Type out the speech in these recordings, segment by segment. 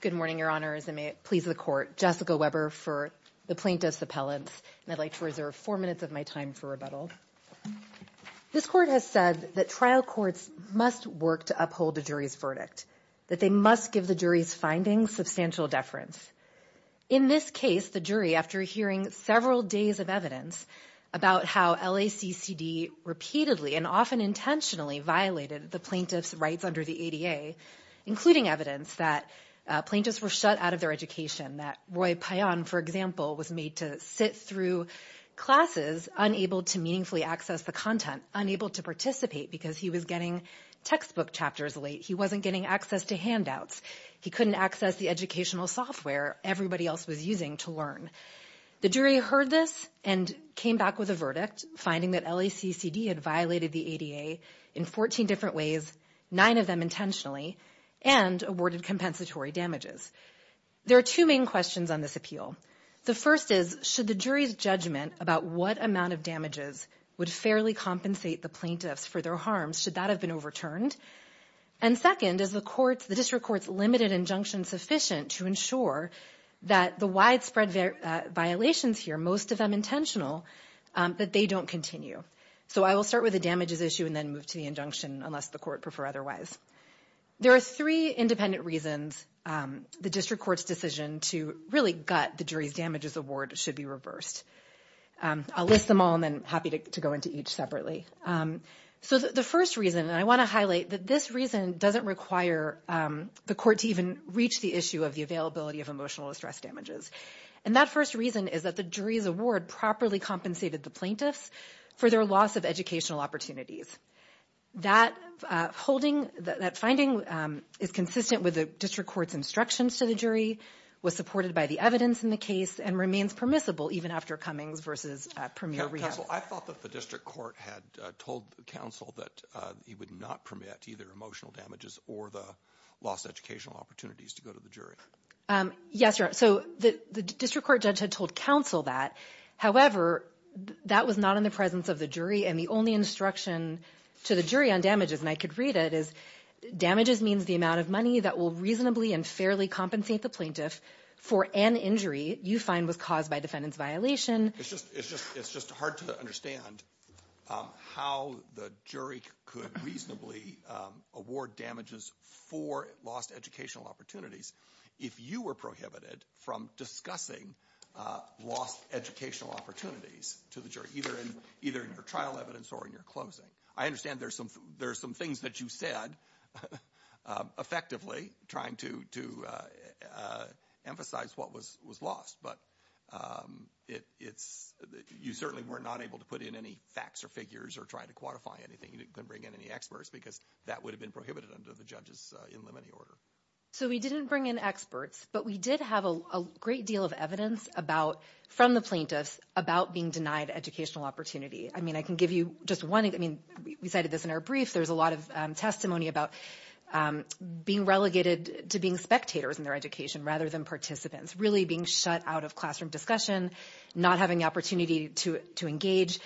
Good morning, Your Honors, and may it please the Court, Jessica Weber for the Plaintiffs' Appellants, and I'd like to reserve four minutes of my time for rebuttal. This Court has said that trial courts must work to uphold a jury's verdict, that they must give the jury's findings substantial deference. In this case, the jury, after hearing several days of evidence about how LACCD repeatedly and often intentionally violated the plaintiff's rights under the ADA, including evidence that plaintiffs were shut out of their education, that Roy Payan, for example, was made to sit through classes unable to meaningfully access the content, unable to participate because he was getting textbook chapters late, he wasn't getting access to handouts, he couldn't access the educational software everybody else was using to learn. The jury heard this and came back with a verdict, finding that LACCD had violated the ADA in 14 different ways, nine of them intentionally, and awarded compensatory damages. There are two main questions on this appeal. The first is, should the jury's judgment about what amount of damages would fairly compensate the plaintiffs for their harms, should that have been overturned? And second, is the District Court's limited injunction sufficient to ensure that the widespread violations here, most of them intentional, that they don't continue? So I will start with the damages issue and then move to the injunction unless the court prefer otherwise. There are three independent reasons the District Court's decision to really gut the jury's damages award should be reversed. I'll list them all and then happy to go into each separately. So the first reason, and I want to highlight that this reason doesn't require the court to even reach the issue of the availability of emotional distress damages. And that first reason is that the jury's award properly compensated the plaintiffs for their loss of educational opportunities. That finding is consistent with the District Court's instructions to the jury, was supported by the evidence in the case, and remains permissible even after Cummings v. Premier Rios. Counsel, I thought that the District Court had told the counsel that he would not permit to either emotional damages or the lost educational opportunities to go to the jury. Yes, Your Honor. So the District Court judge had told counsel that, however, that was not in the presence of the jury and the only instruction to the jury on damages, and I could read it, is damages means the amount of money that will reasonably and fairly compensate the plaintiff for an injury you find was caused by defendant's violation. It's just hard to understand how the jury could reasonably award damages for lost educational opportunities if you were prohibited from discussing lost educational opportunities to the jury, either in your trial evidence or in your closing. I understand there's some things that you said effectively trying to emphasize what was lost, but it's, you certainly were not able to put in any facts or figures or try to quantify anything. You didn't bring in any experts, because that would have been prohibited under the judge's in limine order. So we didn't bring in experts, but we did have a great deal of evidence about, from the plaintiffs, about being denied educational opportunity. I mean, I can give you just one, I mean, we cited this in our brief. There's a lot of testimony about being relegated to being spectators in their education rather than participants, really being shut out of classroom discussion, not having the opportunity to engage.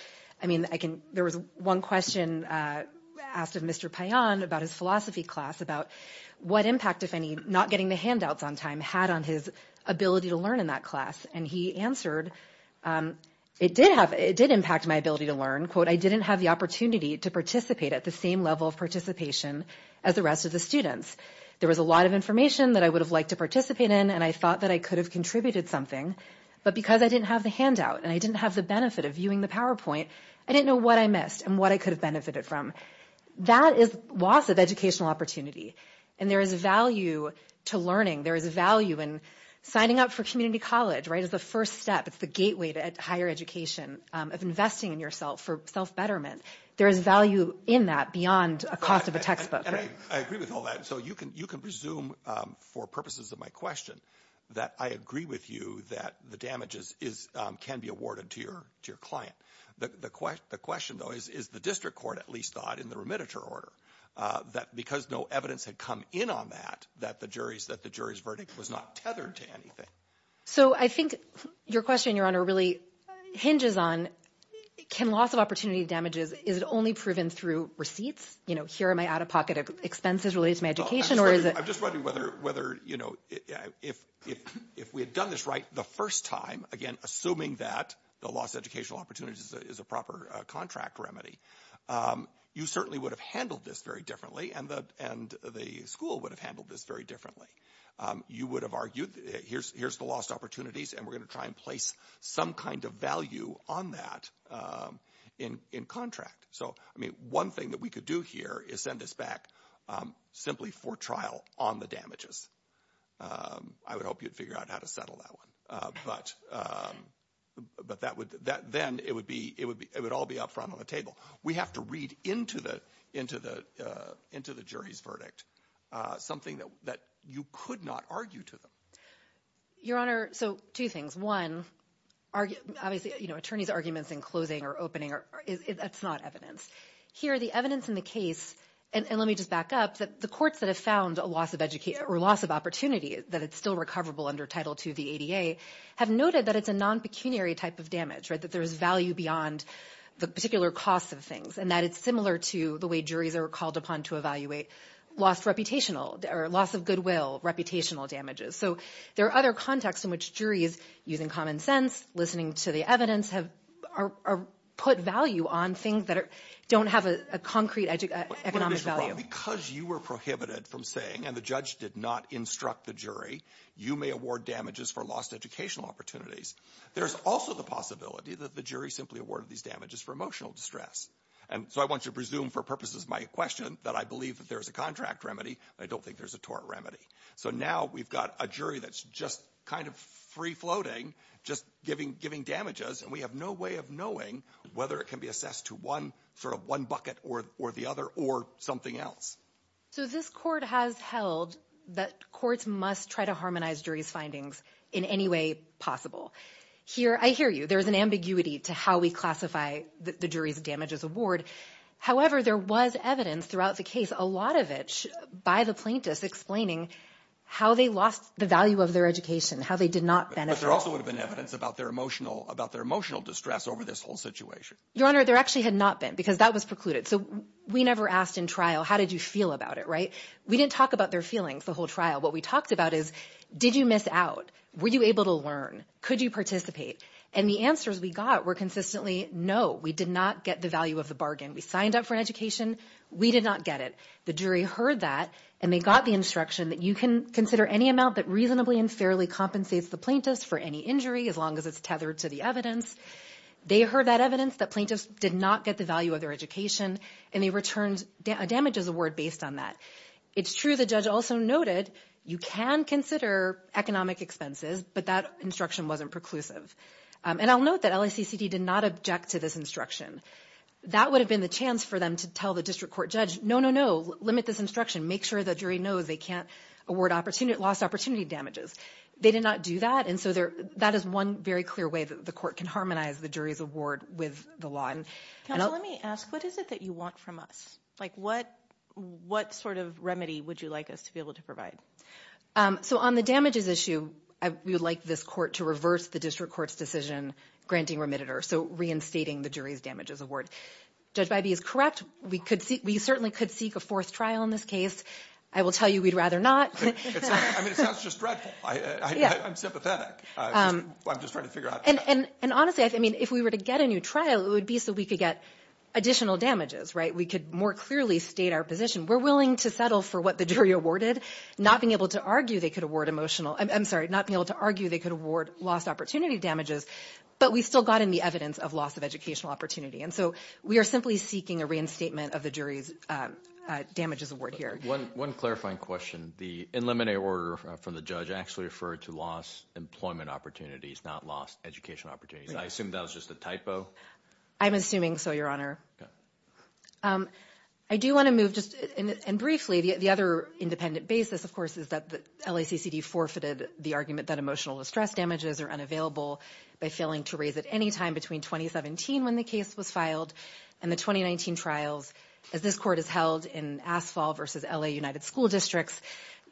I mean, I can, there was one question asked of Mr. Payan about his philosophy class about what impact, if any, not getting the handouts on time had on his ability to learn in that class. And he answered, it did have, it did impact my ability to learn, quote, I didn't have the opportunity to participate at the same level of participation as the rest of the There was a lot of information that I would have liked to participate in, and I thought that I could have contributed something, but because I didn't have the handout, and I didn't have the benefit of viewing the PowerPoint, I didn't know what I missed and what I could have benefited from. That is loss of educational opportunity, and there is value to learning, there is value in signing up for community college, right, as the first step, it's the gateway to higher education of investing in yourself for self-betterment. There is value in that beyond a cost of a textbook. I agree with all that, so you can presume, for purposes of my question, that I agree with you that the damages can be awarded to your client. The question, though, is the district court at least thought in the remitter order that because no evidence had come in on that, that the jury's verdict was not tethered to anything. So I think your question, Your Honor, really hinges on, can loss of opportunity damages, is it only proven through receipts? You know, here are my out-of-pocket expenses related to my education, or is it- I'm just wondering whether, you know, if we had done this right the first time, again, assuming that the loss of educational opportunities is a proper contract remedy, you certainly would have handled this very differently, and the school would have handled this very differently. You would have argued, here's the lost opportunities, and we're going to try and place some kind of value on that in contract. So I mean, one thing that we could do here is send us back simply for trial on the damages. I would hope you'd figure out how to settle that one, but then it would all be up front on the table. We have to read into the jury's verdict something that you could not argue to them. Your Honor, so two things. One, obviously, you know, attorney's arguments in closing or opening, that's not evidence. Here the evidence in the case, and let me just back up, that the courts that have found a loss of opportunity, that it's still recoverable under Title II v. ADA, have noted that it's a non-pecuniary type of damage, that there's value beyond the particular cost of things, and that it's similar to the way juries are called upon to evaluate loss of goodwill, reputational damages. So there are other contexts in which juries, using common sense, listening to the evidence, have put value on things that don't have a concrete economic value. But Mr. Brown, because you were prohibited from saying, and the judge did not instruct the jury, you may award damages for lost educational opportunities, there's also the possibility that the jury simply awarded these damages for emotional distress. And so I want you to presume for purposes of my question that I believe that there's a contract remedy, but I don't think there's a tort remedy. So now we've got a jury that's just kind of free-floating, just giving damages, and we have no way of knowing whether it can be assessed to one, sort of one bucket or the other, or something else. So this court has held that courts must try to harmonize jury's findings in any way possible. Here I hear you. There's an ambiguity to how we classify the jury's damages award. However, there was evidence throughout the case, a lot of it by the plaintiffs explaining how they lost the value of their education, how they did not benefit. But there also would have been evidence about their emotional distress over this whole situation. Your Honor, there actually had not been, because that was precluded. So we never asked in trial, how did you feel about it, right? We didn't talk about their feelings the whole trial. What we talked about is, did you miss out? Were you able to learn? Could you participate? And the answers we got were consistently, no, we did not get the value of the bargain. We signed up for an education. We did not get it. The jury heard that, and they got the instruction that you can consider any amount that reasonably and fairly compensates the plaintiff for any injury, as long as it's tethered to the evidence. They heard that evidence, that plaintiffs did not get the value of their education, and they returned damages award based on that. It's true the judge also noted, you can consider economic expenses, but that instruction wasn't preclusive. And I'll note that LACCD did not object to this instruction. That would have been the chance for them to tell the district court judge, no, no, no, limit this instruction. Make sure the jury knows they can't award lost opportunity damages. They did not do that. And so that is one very clear way that the court can harmonize the jury's award with the law. Counsel, let me ask, what is it that you want from us? What sort of remedy would you like us to be able to provide? So on the damages issue, we would like this court to reverse the district court's decision granting remitted or so reinstating the jury's damages award. Judge Bybee is correct. We could see, we certainly could seek a fourth trial in this case. I will tell you we'd rather not. I mean, it sounds just dreadful. I'm sympathetic. I'm just trying to figure out. And honestly, I mean, if we were to get a new trial, it would be so we could get additional damages, right? We could more clearly state our position. We're willing to settle for what the jury awarded, not being able to argue they could award emotional. I'm sorry, not be able to argue they could award lost opportunity damages. But we still got in the evidence of loss of educational opportunity. And so we are simply seeking a reinstatement of the jury's damages award here. One clarifying question. The in limine order from the judge actually referred to loss employment opportunities, not lost educational opportunities. I assume that was just a typo. I'm assuming so, Your Honor. I do want to move just and briefly the other independent basis, of course, is that LACCD forfeited the argument that emotional distress damages are unavailable by failing to raise at any time between 2017 when the case was filed and the 2019 trials as this court is held in asphalt versus L.A. United School Districts.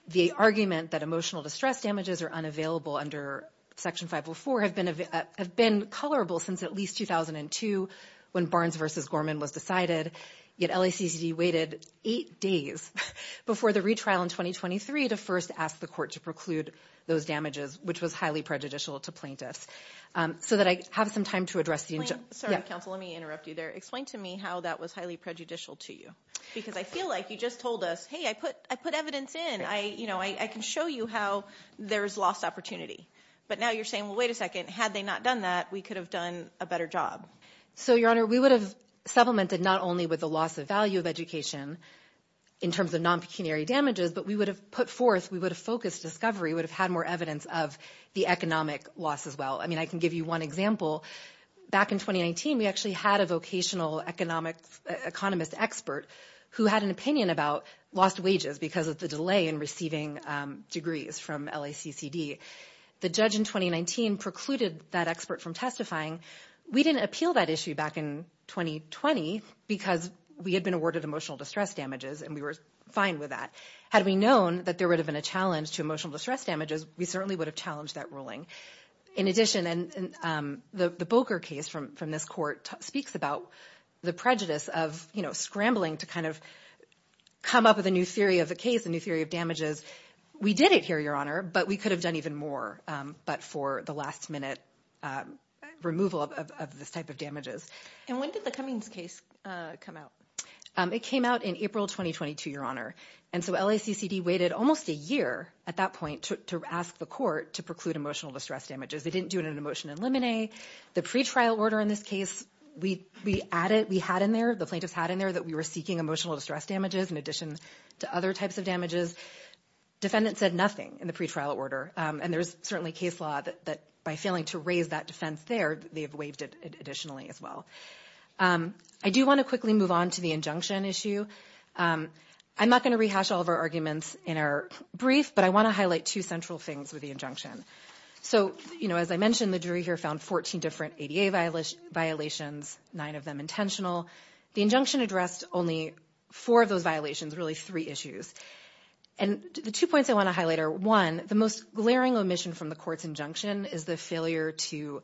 The argument that emotional distress damages are unavailable under Section 504 have been colorable since at least 2002 when Barnes versus Gorman was decided. Yet LACCD waited eight days before the retrial in 2023 to first ask the court to preclude those damages, which was highly prejudicial to plaintiffs. So that I have some time to address the. Sorry, counsel, let me interrupt you there. Explain to me how that was highly prejudicial to you, because I feel like you just told us, hey, I put I put evidence in. I you know, I can show you how there is lost opportunity. But now you're saying, well, wait a second. Had they not done that, we could have done a better job. So your honor, we would have supplemented not only with the loss of value of education in terms of non-pecuniary damages, but we would have put forth we would have focused discovery would have had more evidence of the economic loss as well. I mean, I can give you one example. Back in 2019, we actually had a vocational economics economist expert who had an opinion about lost wages because of the delay in receiving degrees from LACCD. The judge in 2019 precluded that expert from testifying. We didn't appeal that issue back in 2020 because we had been awarded emotional distress damages and we were fine with that. Had we known that there would have been a challenge to emotional distress damages, we certainly would have challenged that ruling. In addition, and the Boker case from from this court speaks about the prejudice of scrambling to kind of come up with a new theory of the case, a new theory of damages. We did it here, your honor, but we could have done even more. But for the last minute removal of this type of damages. And when did the Cummings case come out? It came out in April 2022, your honor. And so LACCD waited almost a year at that point to ask the court to preclude emotional distress damages. They didn't do it in an emotional limine. The pretrial order in this case, we we added we had in there the plaintiffs had in there that we were seeking emotional distress damages in addition to other types of damages. Defendants said nothing in the pretrial order. And there's certainly case law that by failing to raise that defense there, they have waived it additionally as well. I do want to quickly move on to the injunction issue. I'm not going to rehash all of our arguments in our brief, but I want to highlight two central things with the injunction. So you know, as I mentioned, the jury here found 14 different ADA violations, nine of them intentional. The injunction addressed only four of those violations, really three issues. And the two points I want to highlight are one, the most glaring omission from the court's injunction is the failure to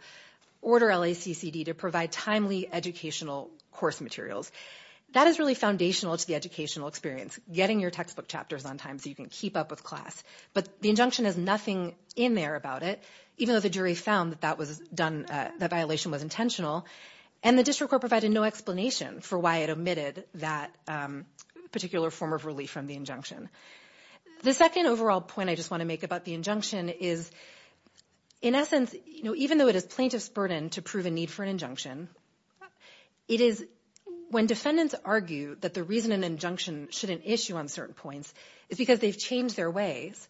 order LACCD to provide timely educational course materials. That is really foundational to the educational experience, getting your textbook chapters on time so you can keep up with class. But the injunction has nothing in there about it, even though the jury found that that was done, that violation was intentional. And the district court provided no explanation for why it omitted that particular form of relief from the injunction. The second overall point I just want to make about the injunction is, in essence, even though it is plaintiff's burden to prove a need for an injunction, it is when defendants argue that the reason an injunction shouldn't issue on certain points is because they've changed their ways,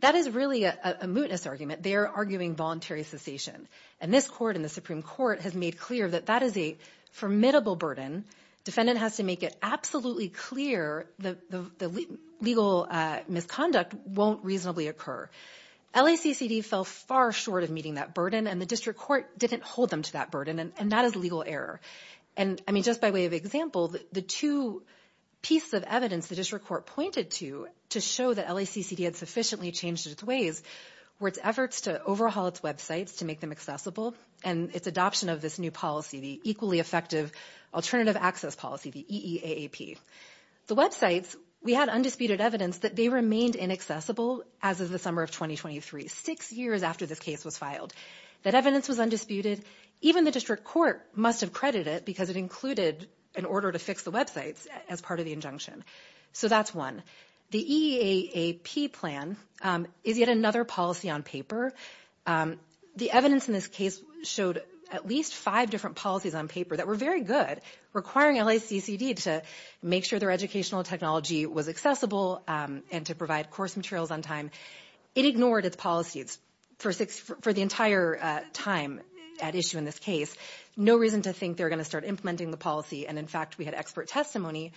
that is really a mootness argument. They are arguing voluntary cessation. And this court and the Supreme Court have made clear that that is a formidable burden. Defendant has to make it absolutely clear that the legal misconduct won't reasonably occur. LACCD fell far short of meeting that burden, and the district court didn't hold them to that burden, and that is legal error. And I mean, just by way of example, the two pieces of evidence the district court pointed to to show that LACCD had sufficiently changed its ways were its efforts to overhaul its websites to make them accessible, and its adoption of this new policy, the equally effective alternative access policy, the EEAAP. The websites, we had undisputed evidence that they remained inaccessible as of the summer of 2023, six years after this case was filed. That evidence was undisputed. Even the district court must have credited it because it included an order to fix the websites as part of the injunction. So that's one. The EEAAP plan is yet another policy on paper. The evidence in this case showed at least five different policies on paper that were very good, requiring LACCD to make sure their educational technology was accessible and to provide course materials on time. It ignored its policies for the entire time at issue in this case. No reason to think they're going to start implementing the policy, and in fact, we had an expert testimony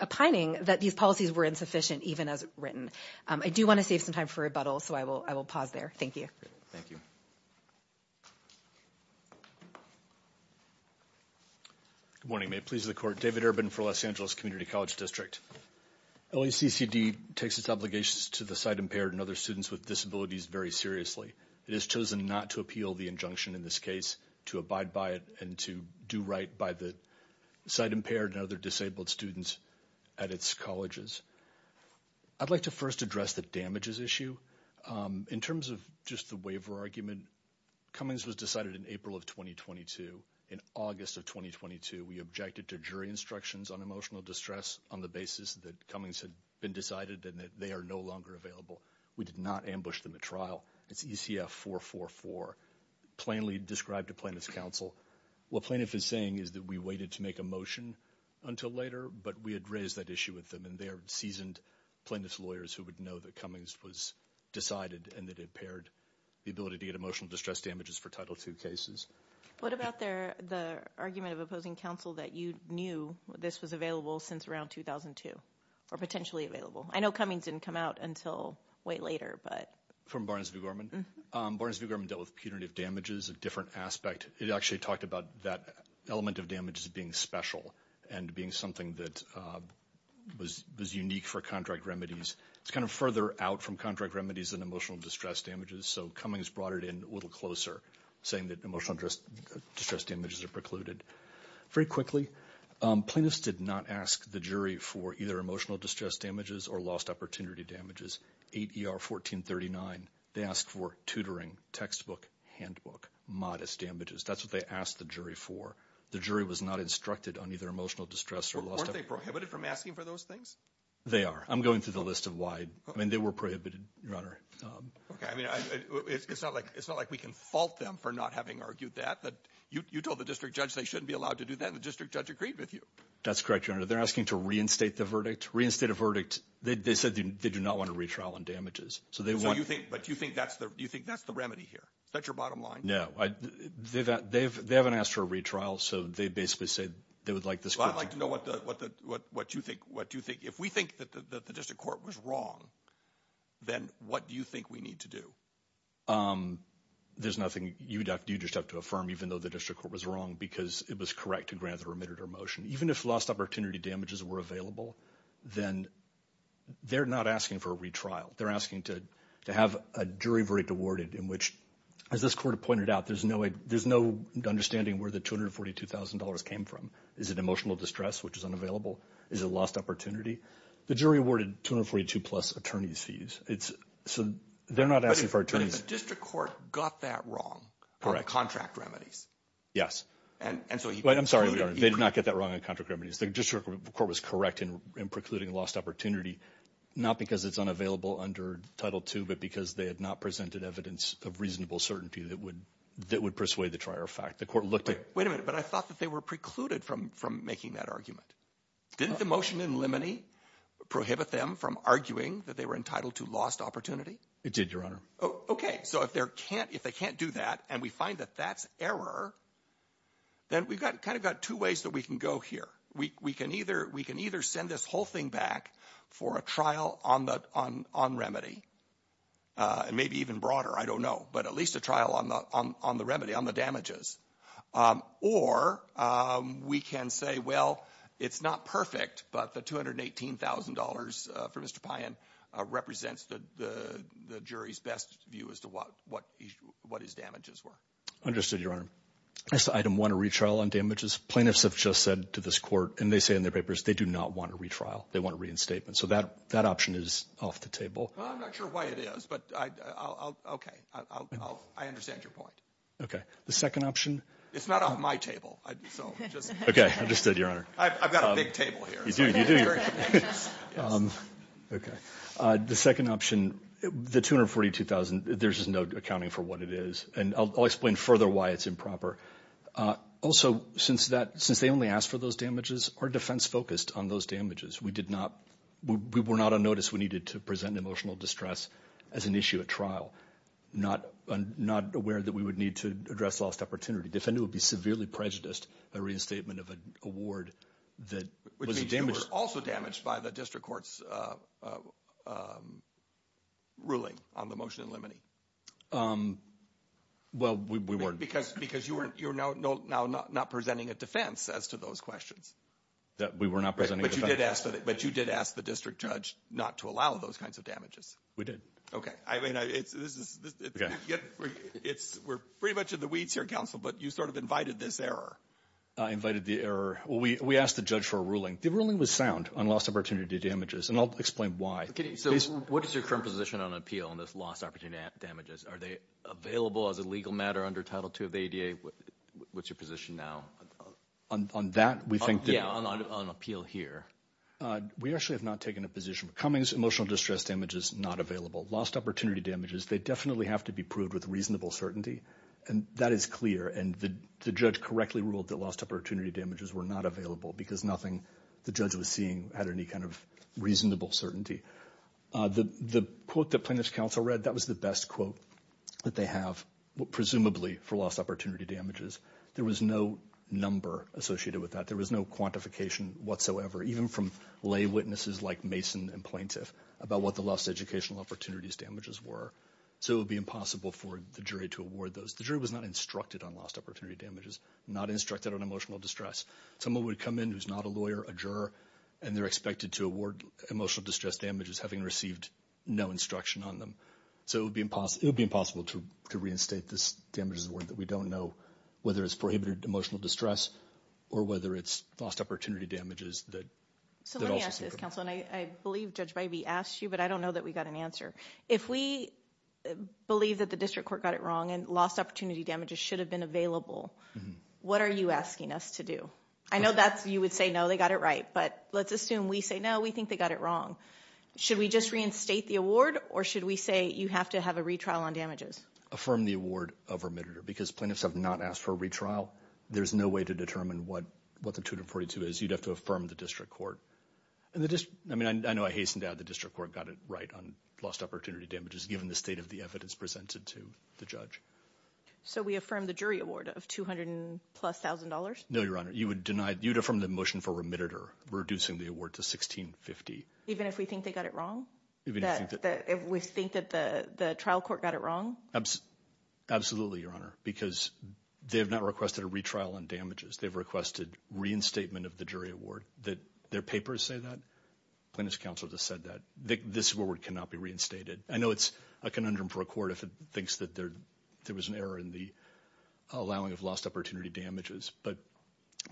opining that these policies were insufficient, even as written. I do want to save some time for rebuttal, so I will pause there. Thank you. Thank you. Good morning. May it please the court, David Urban for Los Angeles Community College District. LACCD takes its obligations to the sight-impaired and other students with disabilities very seriously. It has chosen not to appeal the injunction in this case, to abide by it, and to do right by the sight-impaired and other disabled students at its colleges. I'd like to first address the damages issue. In terms of just the waiver argument, Cummings was decided in April of 2022. In August of 2022, we objected to jury instructions on emotional distress on the basis that Cummings had been decided and that they are no longer available. We did not ambush them at trial. It's ECF 444, plainly described to plaintiff's counsel. What plaintiff is saying is that we waited to make a motion until later, but we had raised that issue with them, and they are seasoned plaintiff's lawyers who would know that Cummings was decided and that it impaired the ability to get emotional distress damages for Title II cases. What about the argument of opposing counsel that you knew this was available since around 2002, or potentially available? I know Cummings didn't come out until way later, but... From Barnes v. Gorman? Barnes v. Gorman dealt with punitive damages, a different aspect. It actually talked about that element of damages being special, and being something that was unique for contract remedies. It's kind of further out from contract remedies than emotional distress damages, so Cummings brought it in a little closer, saying that emotional distress damages are precluded. Very quickly, plaintiffs did not ask the jury for either emotional distress damages or lost opportunity damages, 8 ER 1439. They asked for tutoring, textbook, handbook, modest damages. That's what they asked the jury for. The jury was not instructed on either emotional distress or lost... Weren't they prohibited from asking for those things? They are. I'm going through the list of why. I mean, they were prohibited, Your Honor. Okay. I mean, it's not like we can fault them for not having argued that. You told the district judge they shouldn't be allowed to do that, and the district judge agreed with you. That's correct, Your Honor. They're asking to reinstate the verdict. Reinstate a verdict. They said they do not want a retrial on damages. So they want... But you think that's the... Do you think that's the remedy here? Is that your bottom line? No. They haven't asked for a retrial, so they basically said they would like this court... Well, I'd like to know what you think... If we think that the district court was wrong, then what do you think we need to do? There's nothing... You just have to affirm, even though the district court was wrong, because it was correct to grant the remitted or motion. Even if lost opportunity damages were available, then they're not asking for a retrial. They're asking to have a jury verdict awarded in which, as this court pointed out, there's no understanding where the $242,000 came from. Is it emotional distress, which is unavailable? Is it lost opportunity? The jury awarded 242-plus attorney's fees, so they're not asking for attorney's... But if the district court got that wrong on the contract remedies... Yes. And so you... I'm sorry, Your Honor. They did not get that wrong on contract remedies. The district court was correct in precluding lost opportunity, not because it's unavailable under Title II, but because they had not presented evidence of reasonable certainty that would persuade the trier of fact. The court looked at... Wait a minute. But I thought that they were precluded from making that argument. Didn't the motion in limine prohibit them from arguing that they were entitled to lost opportunity? It did, Your Honor. Okay. So if they can't do that, and we find that that's error, then we've kind of got two ways that we can go here. We can either send this whole thing back for a trial on remedy, and maybe even broader, I don't know, but at least a trial on the remedy, on the damages. Or we can say, well, it's not perfect, but the $218,000 for Mr. Payan represents the jury's best view as to what his damages were. Understood, Your Honor. As to Item 1, a retrial on damages, plaintiffs have just said to this Court, and they say in their papers, they do not want a retrial. They want a reinstatement. So that option is off the table. Well, I'm not sure why it is, but I'll, okay. I understand your point. Okay. The second option? It's not off my table. So just... Okay. Understood, Your Honor. I've got a big table here. You do. You do. Okay. The second option, the $242,000, there's just no accounting for what it is. And I'll explain further why it's improper. Also, since they only asked for those damages, our defense focused on those damages. We did not, we were not on notice. We needed to present an emotional distress as an issue at trial. Not aware that we would need to address lost opportunity. Defendant would be severely prejudiced by reinstatement of an award that was a damage... Which means you were also damaged by the District Court's ruling on the motion in limine. Well, we weren't. Because you're now not presenting a defense as to those questions. We were not presenting a defense. But you did ask the district judge not to allow those kinds of damages. We did. Okay. I mean, it's... Okay. We're pretty much in the weeds here, counsel, but you sort of invited this error. I invited the error. We asked the judge for a ruling. The ruling was sound on lost opportunity damages, and I'll explain why. So, what is your current position on appeal on this lost opportunity damages? Are they available as a legal matter under Title II of the ADA? What's your position now? On that, we think that... Yeah, on appeal here. We actually have not taken a position. Cummings emotional distress damages, not available. Lost opportunity damages, they definitely have to be proved with reasonable certainty. And that is clear. And the judge correctly ruled that lost opportunity damages were not available because nothing the judge was seeing had any kind of reasonable certainty. The quote that plaintiff's counsel read, that was the best quote that they have, presumably for lost opportunity damages. There was no number associated with that. There was no quantification whatsoever, even from lay witnesses like Mason and plaintiff about what the lost educational opportunities damages were. So it would be impossible for the jury to award those. The jury was not instructed on lost opportunity damages, not instructed on emotional distress. Someone would come in who's not a lawyer, a juror, and they're expected to award emotional distress damages having received no instruction on them. So it would be impossible to reinstate this damages award that we don't know whether it's prohibited emotional distress or whether it's lost opportunity damages that... So let me ask this, counsel. And I believe Judge Bybee asked you, but I don't know that we got an answer. If we believe that the district court got it wrong and lost opportunity damages should have been available, what are you asking us to do? I know that you would say, no, they got it right. But let's assume we say, no, we think they got it wrong. Should we just reinstate the award? Or should we say you have to have a retrial on damages? Affirm the award of remitted or because plaintiffs have not asked for a retrial. There's no way to determine what the 242 is. You'd have to affirm the district court. I mean, I know I hasten to add the district court got it right on lost opportunity damages given the state of the evidence presented to the judge. So we affirm the jury award of 200 and plus thousand dollars? No, Your Honor. You would deny it. You'd affirm the motion for remitted or reducing the award to 1650. Even if we think they got it wrong? Even if we think that the trial court got it wrong? Absolutely, Your Honor, because they have not requested a retrial on damages. They've requested reinstatement of the jury award that their papers say that. Plaintiff's counsel has said that this award cannot be reinstated. I know it's a conundrum for a court if it thinks that there was an error in the allowing of lost opportunity damages, but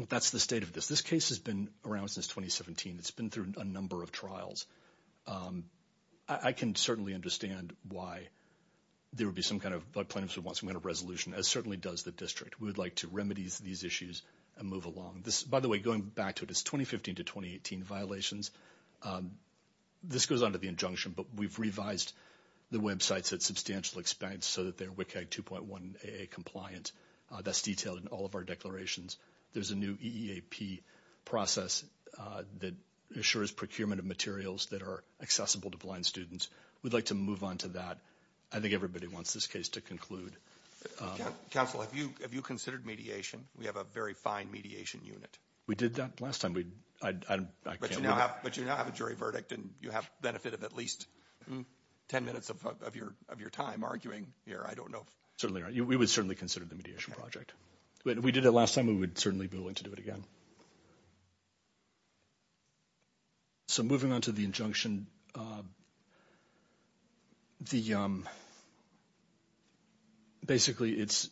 that's the state of this. This case has been around since 2017. It's been through a number of trials. I can certainly understand why there would be some kind of, but plaintiffs would want some kind of resolution, as certainly does the district. We would like to remedies these issues and move along. By the way, going back to it, it's 2015 to 2018 violations. This goes on to the injunction, but we've revised the websites at substantial expense so that they're WCAG 2.1 AA compliant. That's detailed in all of our declarations. There's a new EEAP process that assures procurement of materials that are accessible to blind students. We'd like to move on to that. I think everybody wants this case to conclude. Counsel, have you considered mediation? We have a very fine mediation unit. We did that last time. But you now have a jury verdict, and you have benefit of at least 10 minutes of your time arguing here. I don't know. Certainly. We would certainly consider the mediation project. If we did it last time, we would certainly be willing to do it again. So moving on to the injunction, basically, it's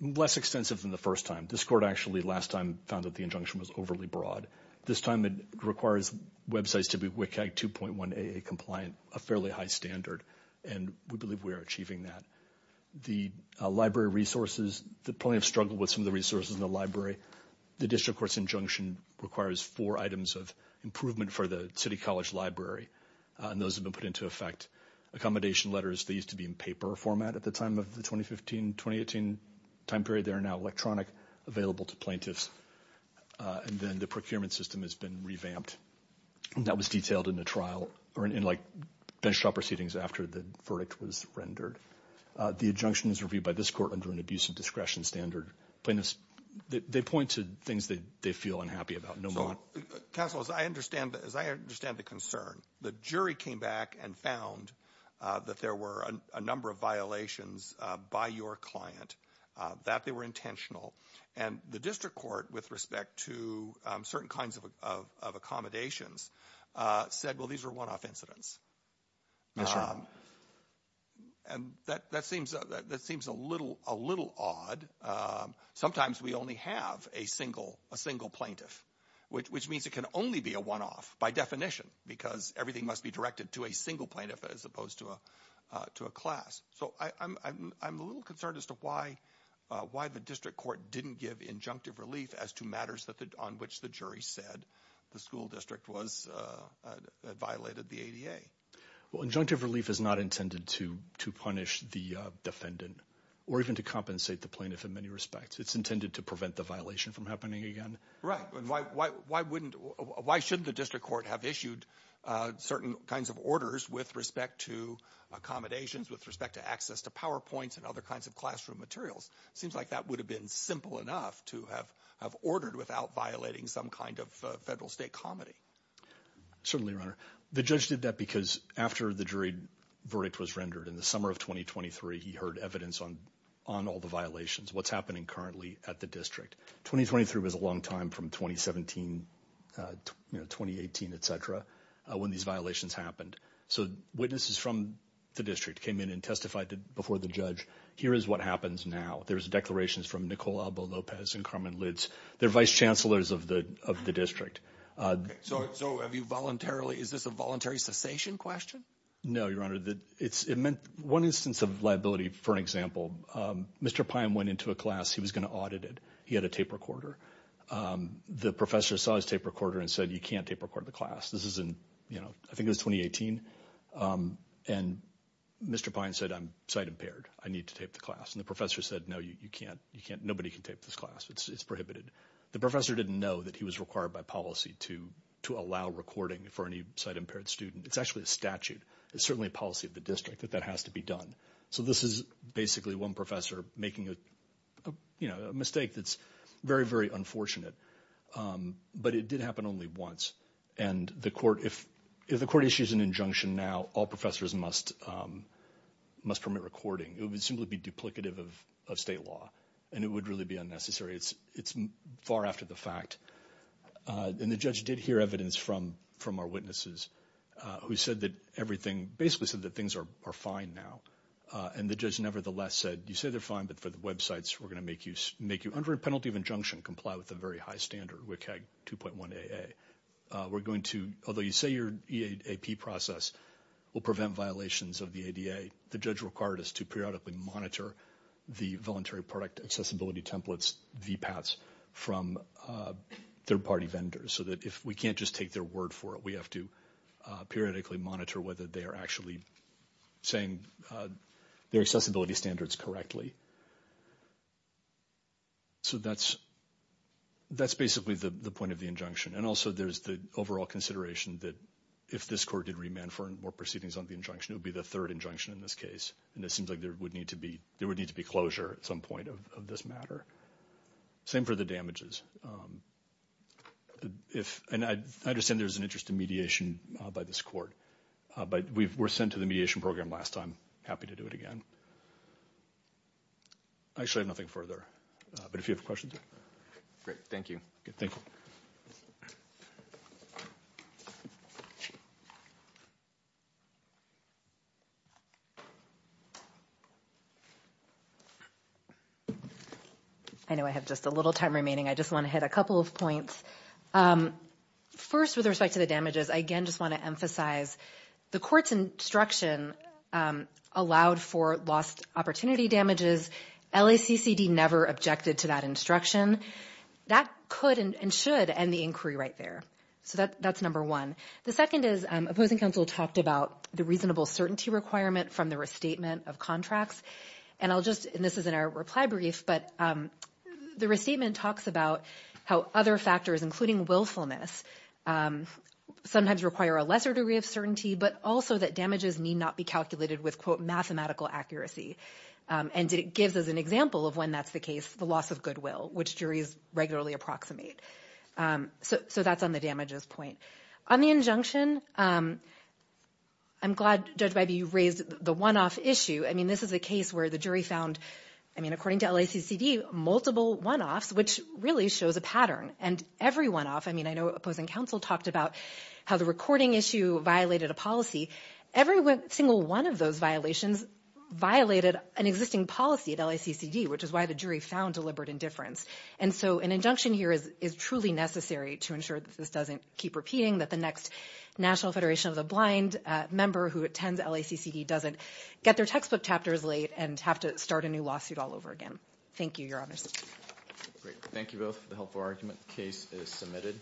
less extensive than the first time. This court actually, last time, found that the injunction was overly broad. This time, it requires websites to be WCAG 2.1 AA compliant, a fairly high standard, and we believe we are achieving that. The library resources, the plaintiff struggled with some of the resources in the library. The district court's injunction requires four items of improvement for the city college library, and those have been put into effect. Accommodation letters, they used to be in paper format at the time of the 2015-2018 time period. They are now electronic, available to plaintiffs, and then the procurement system has been revamped. That was detailed in the trial, or in, like, bench trial proceedings after the verdict was rendered. The injunction is reviewed by this court under an abuse of discretion standard. They point to things that they feel unhappy about, no more. Counsel, as I understand the concern, the jury came back and found that there were a number of violations by your client, that they were intentional, and the district court, with respect to certain kinds of accommodations, said, well, these are one-off incidents. And that seems a little odd. Sometimes we only have a single plaintiff, which means it can only be a one-off by definition because everything must be directed to a single plaintiff as opposed to a class. So I'm a little concerned as to why the district court didn't give injunctive relief as to matters on which the jury said the school district violated the ADA. Injunctive relief is not intended to punish the defendant, or even to compensate the plaintiff in many respects. It's intended to prevent the violation from happening again. Right. Why shouldn't the district court have issued certain kinds of orders with respect to accommodations, with respect to access to PowerPoints and other kinds of classroom materials? Seems like that would have been simple enough to have ordered without violating some kind of federal state comedy. Certainly, Your Honor. The judge did that because after the jury verdict was rendered in the summer of 2023, he heard evidence on all the violations, what's happening currently at the district. 2023 was a long time from 2017, 2018, et cetera, when these violations happened. So witnesses from the district came in and testified before the judge, here is what happens now. There's declarations from Nicola Abel Lopez and Carmen Litz, they're vice chancellors of the district. So have you voluntarily, is this a voluntary cessation question? No, Your Honor. One instance of liability, for example, Mr. Pine went into a class, he was going to audit it. He had a tape recorder. The professor saw his tape recorder and said, you can't tape record the class. This is in, you know, I think it was 2018, and Mr. Pine said, I'm sight impaired, I need to tape the class. And the professor said, no, you can't, you can't, nobody can tape this class, it's prohibited. The professor didn't know that he was required by policy to allow recording for any sight impaired student. It's actually a statute. It's certainly a policy of the district that that has to be done. So this is basically one professor making a, you know, a mistake that's very, very unfortunate. But it did happen only once. And the court, if the court issues an injunction now, all professors must, must permit recording. It would simply be duplicative of state law, and it would really be unnecessary. It's far after the fact. And the judge did hear evidence from our witnesses who said that everything, basically said that they're fine now. And the judge nevertheless said, you say they're fine, but for the websites, we're going to make you, under a penalty of injunction, comply with a very high standard, WCAG 2.1 AA. We're going to, although you say your EAP process will prevent violations of the ADA, the judge required us to periodically monitor the voluntary product accessibility templates, VPATs, from third party vendors. So that if we can't just take their word for it, we have to periodically monitor whether they are actually saying their accessibility standards correctly. So that's, that's basically the point of the injunction. And also there's the overall consideration that if this court did remand for more proceedings on the injunction, it would be the third injunction in this case. And it seems like there would need to be, there would need to be closure at some point of this matter. Same for the damages. If, and I understand there's an interest in mediation by this court, but we were sent to the mediation program last time, happy to do it again. I actually have nothing further, but if you have questions. Thank you. Thank you. I know I have just a little time remaining. I just want to hit a couple of points. First, with respect to the damages, I again just want to emphasize the court's instruction allowed for lost opportunity damages. LACCD never objected to that instruction. That could and should end the inquiry right there. So that's number one. The second is opposing counsel talked about the reasonable certainty requirement from the restatement of contracts. And I'll just, and this is in our reply brief, but the restatement talks about how other factors including willfulness sometimes require a lesser degree of certainty, but also that damages need not be calculated with quote mathematical accuracy. And it gives us an example of when that's the case, the loss of goodwill, which juries regularly approximate. So that's on the damages point. On the injunction, I'm glad Judge Bybee raised the one-off issue. I mean, this is a case where the jury found, I mean, according to LACCD, multiple one-offs, which really shows a pattern. And every one-off, I mean, I know opposing counsel talked about how the recording issue violated a policy. Every single one of those violations violated an existing policy at LACCD, which is why the jury found deliberate indifference. And so an injunction here is truly necessary to ensure that this doesn't keep repeating, that the next National Federation of the Blind member who attends LACCD doesn't get their textbook chapters late and have to start a new lawsuit all over again. Thank you, Your Honors. Great. Thank you both for the helpful argument. The case is submitted.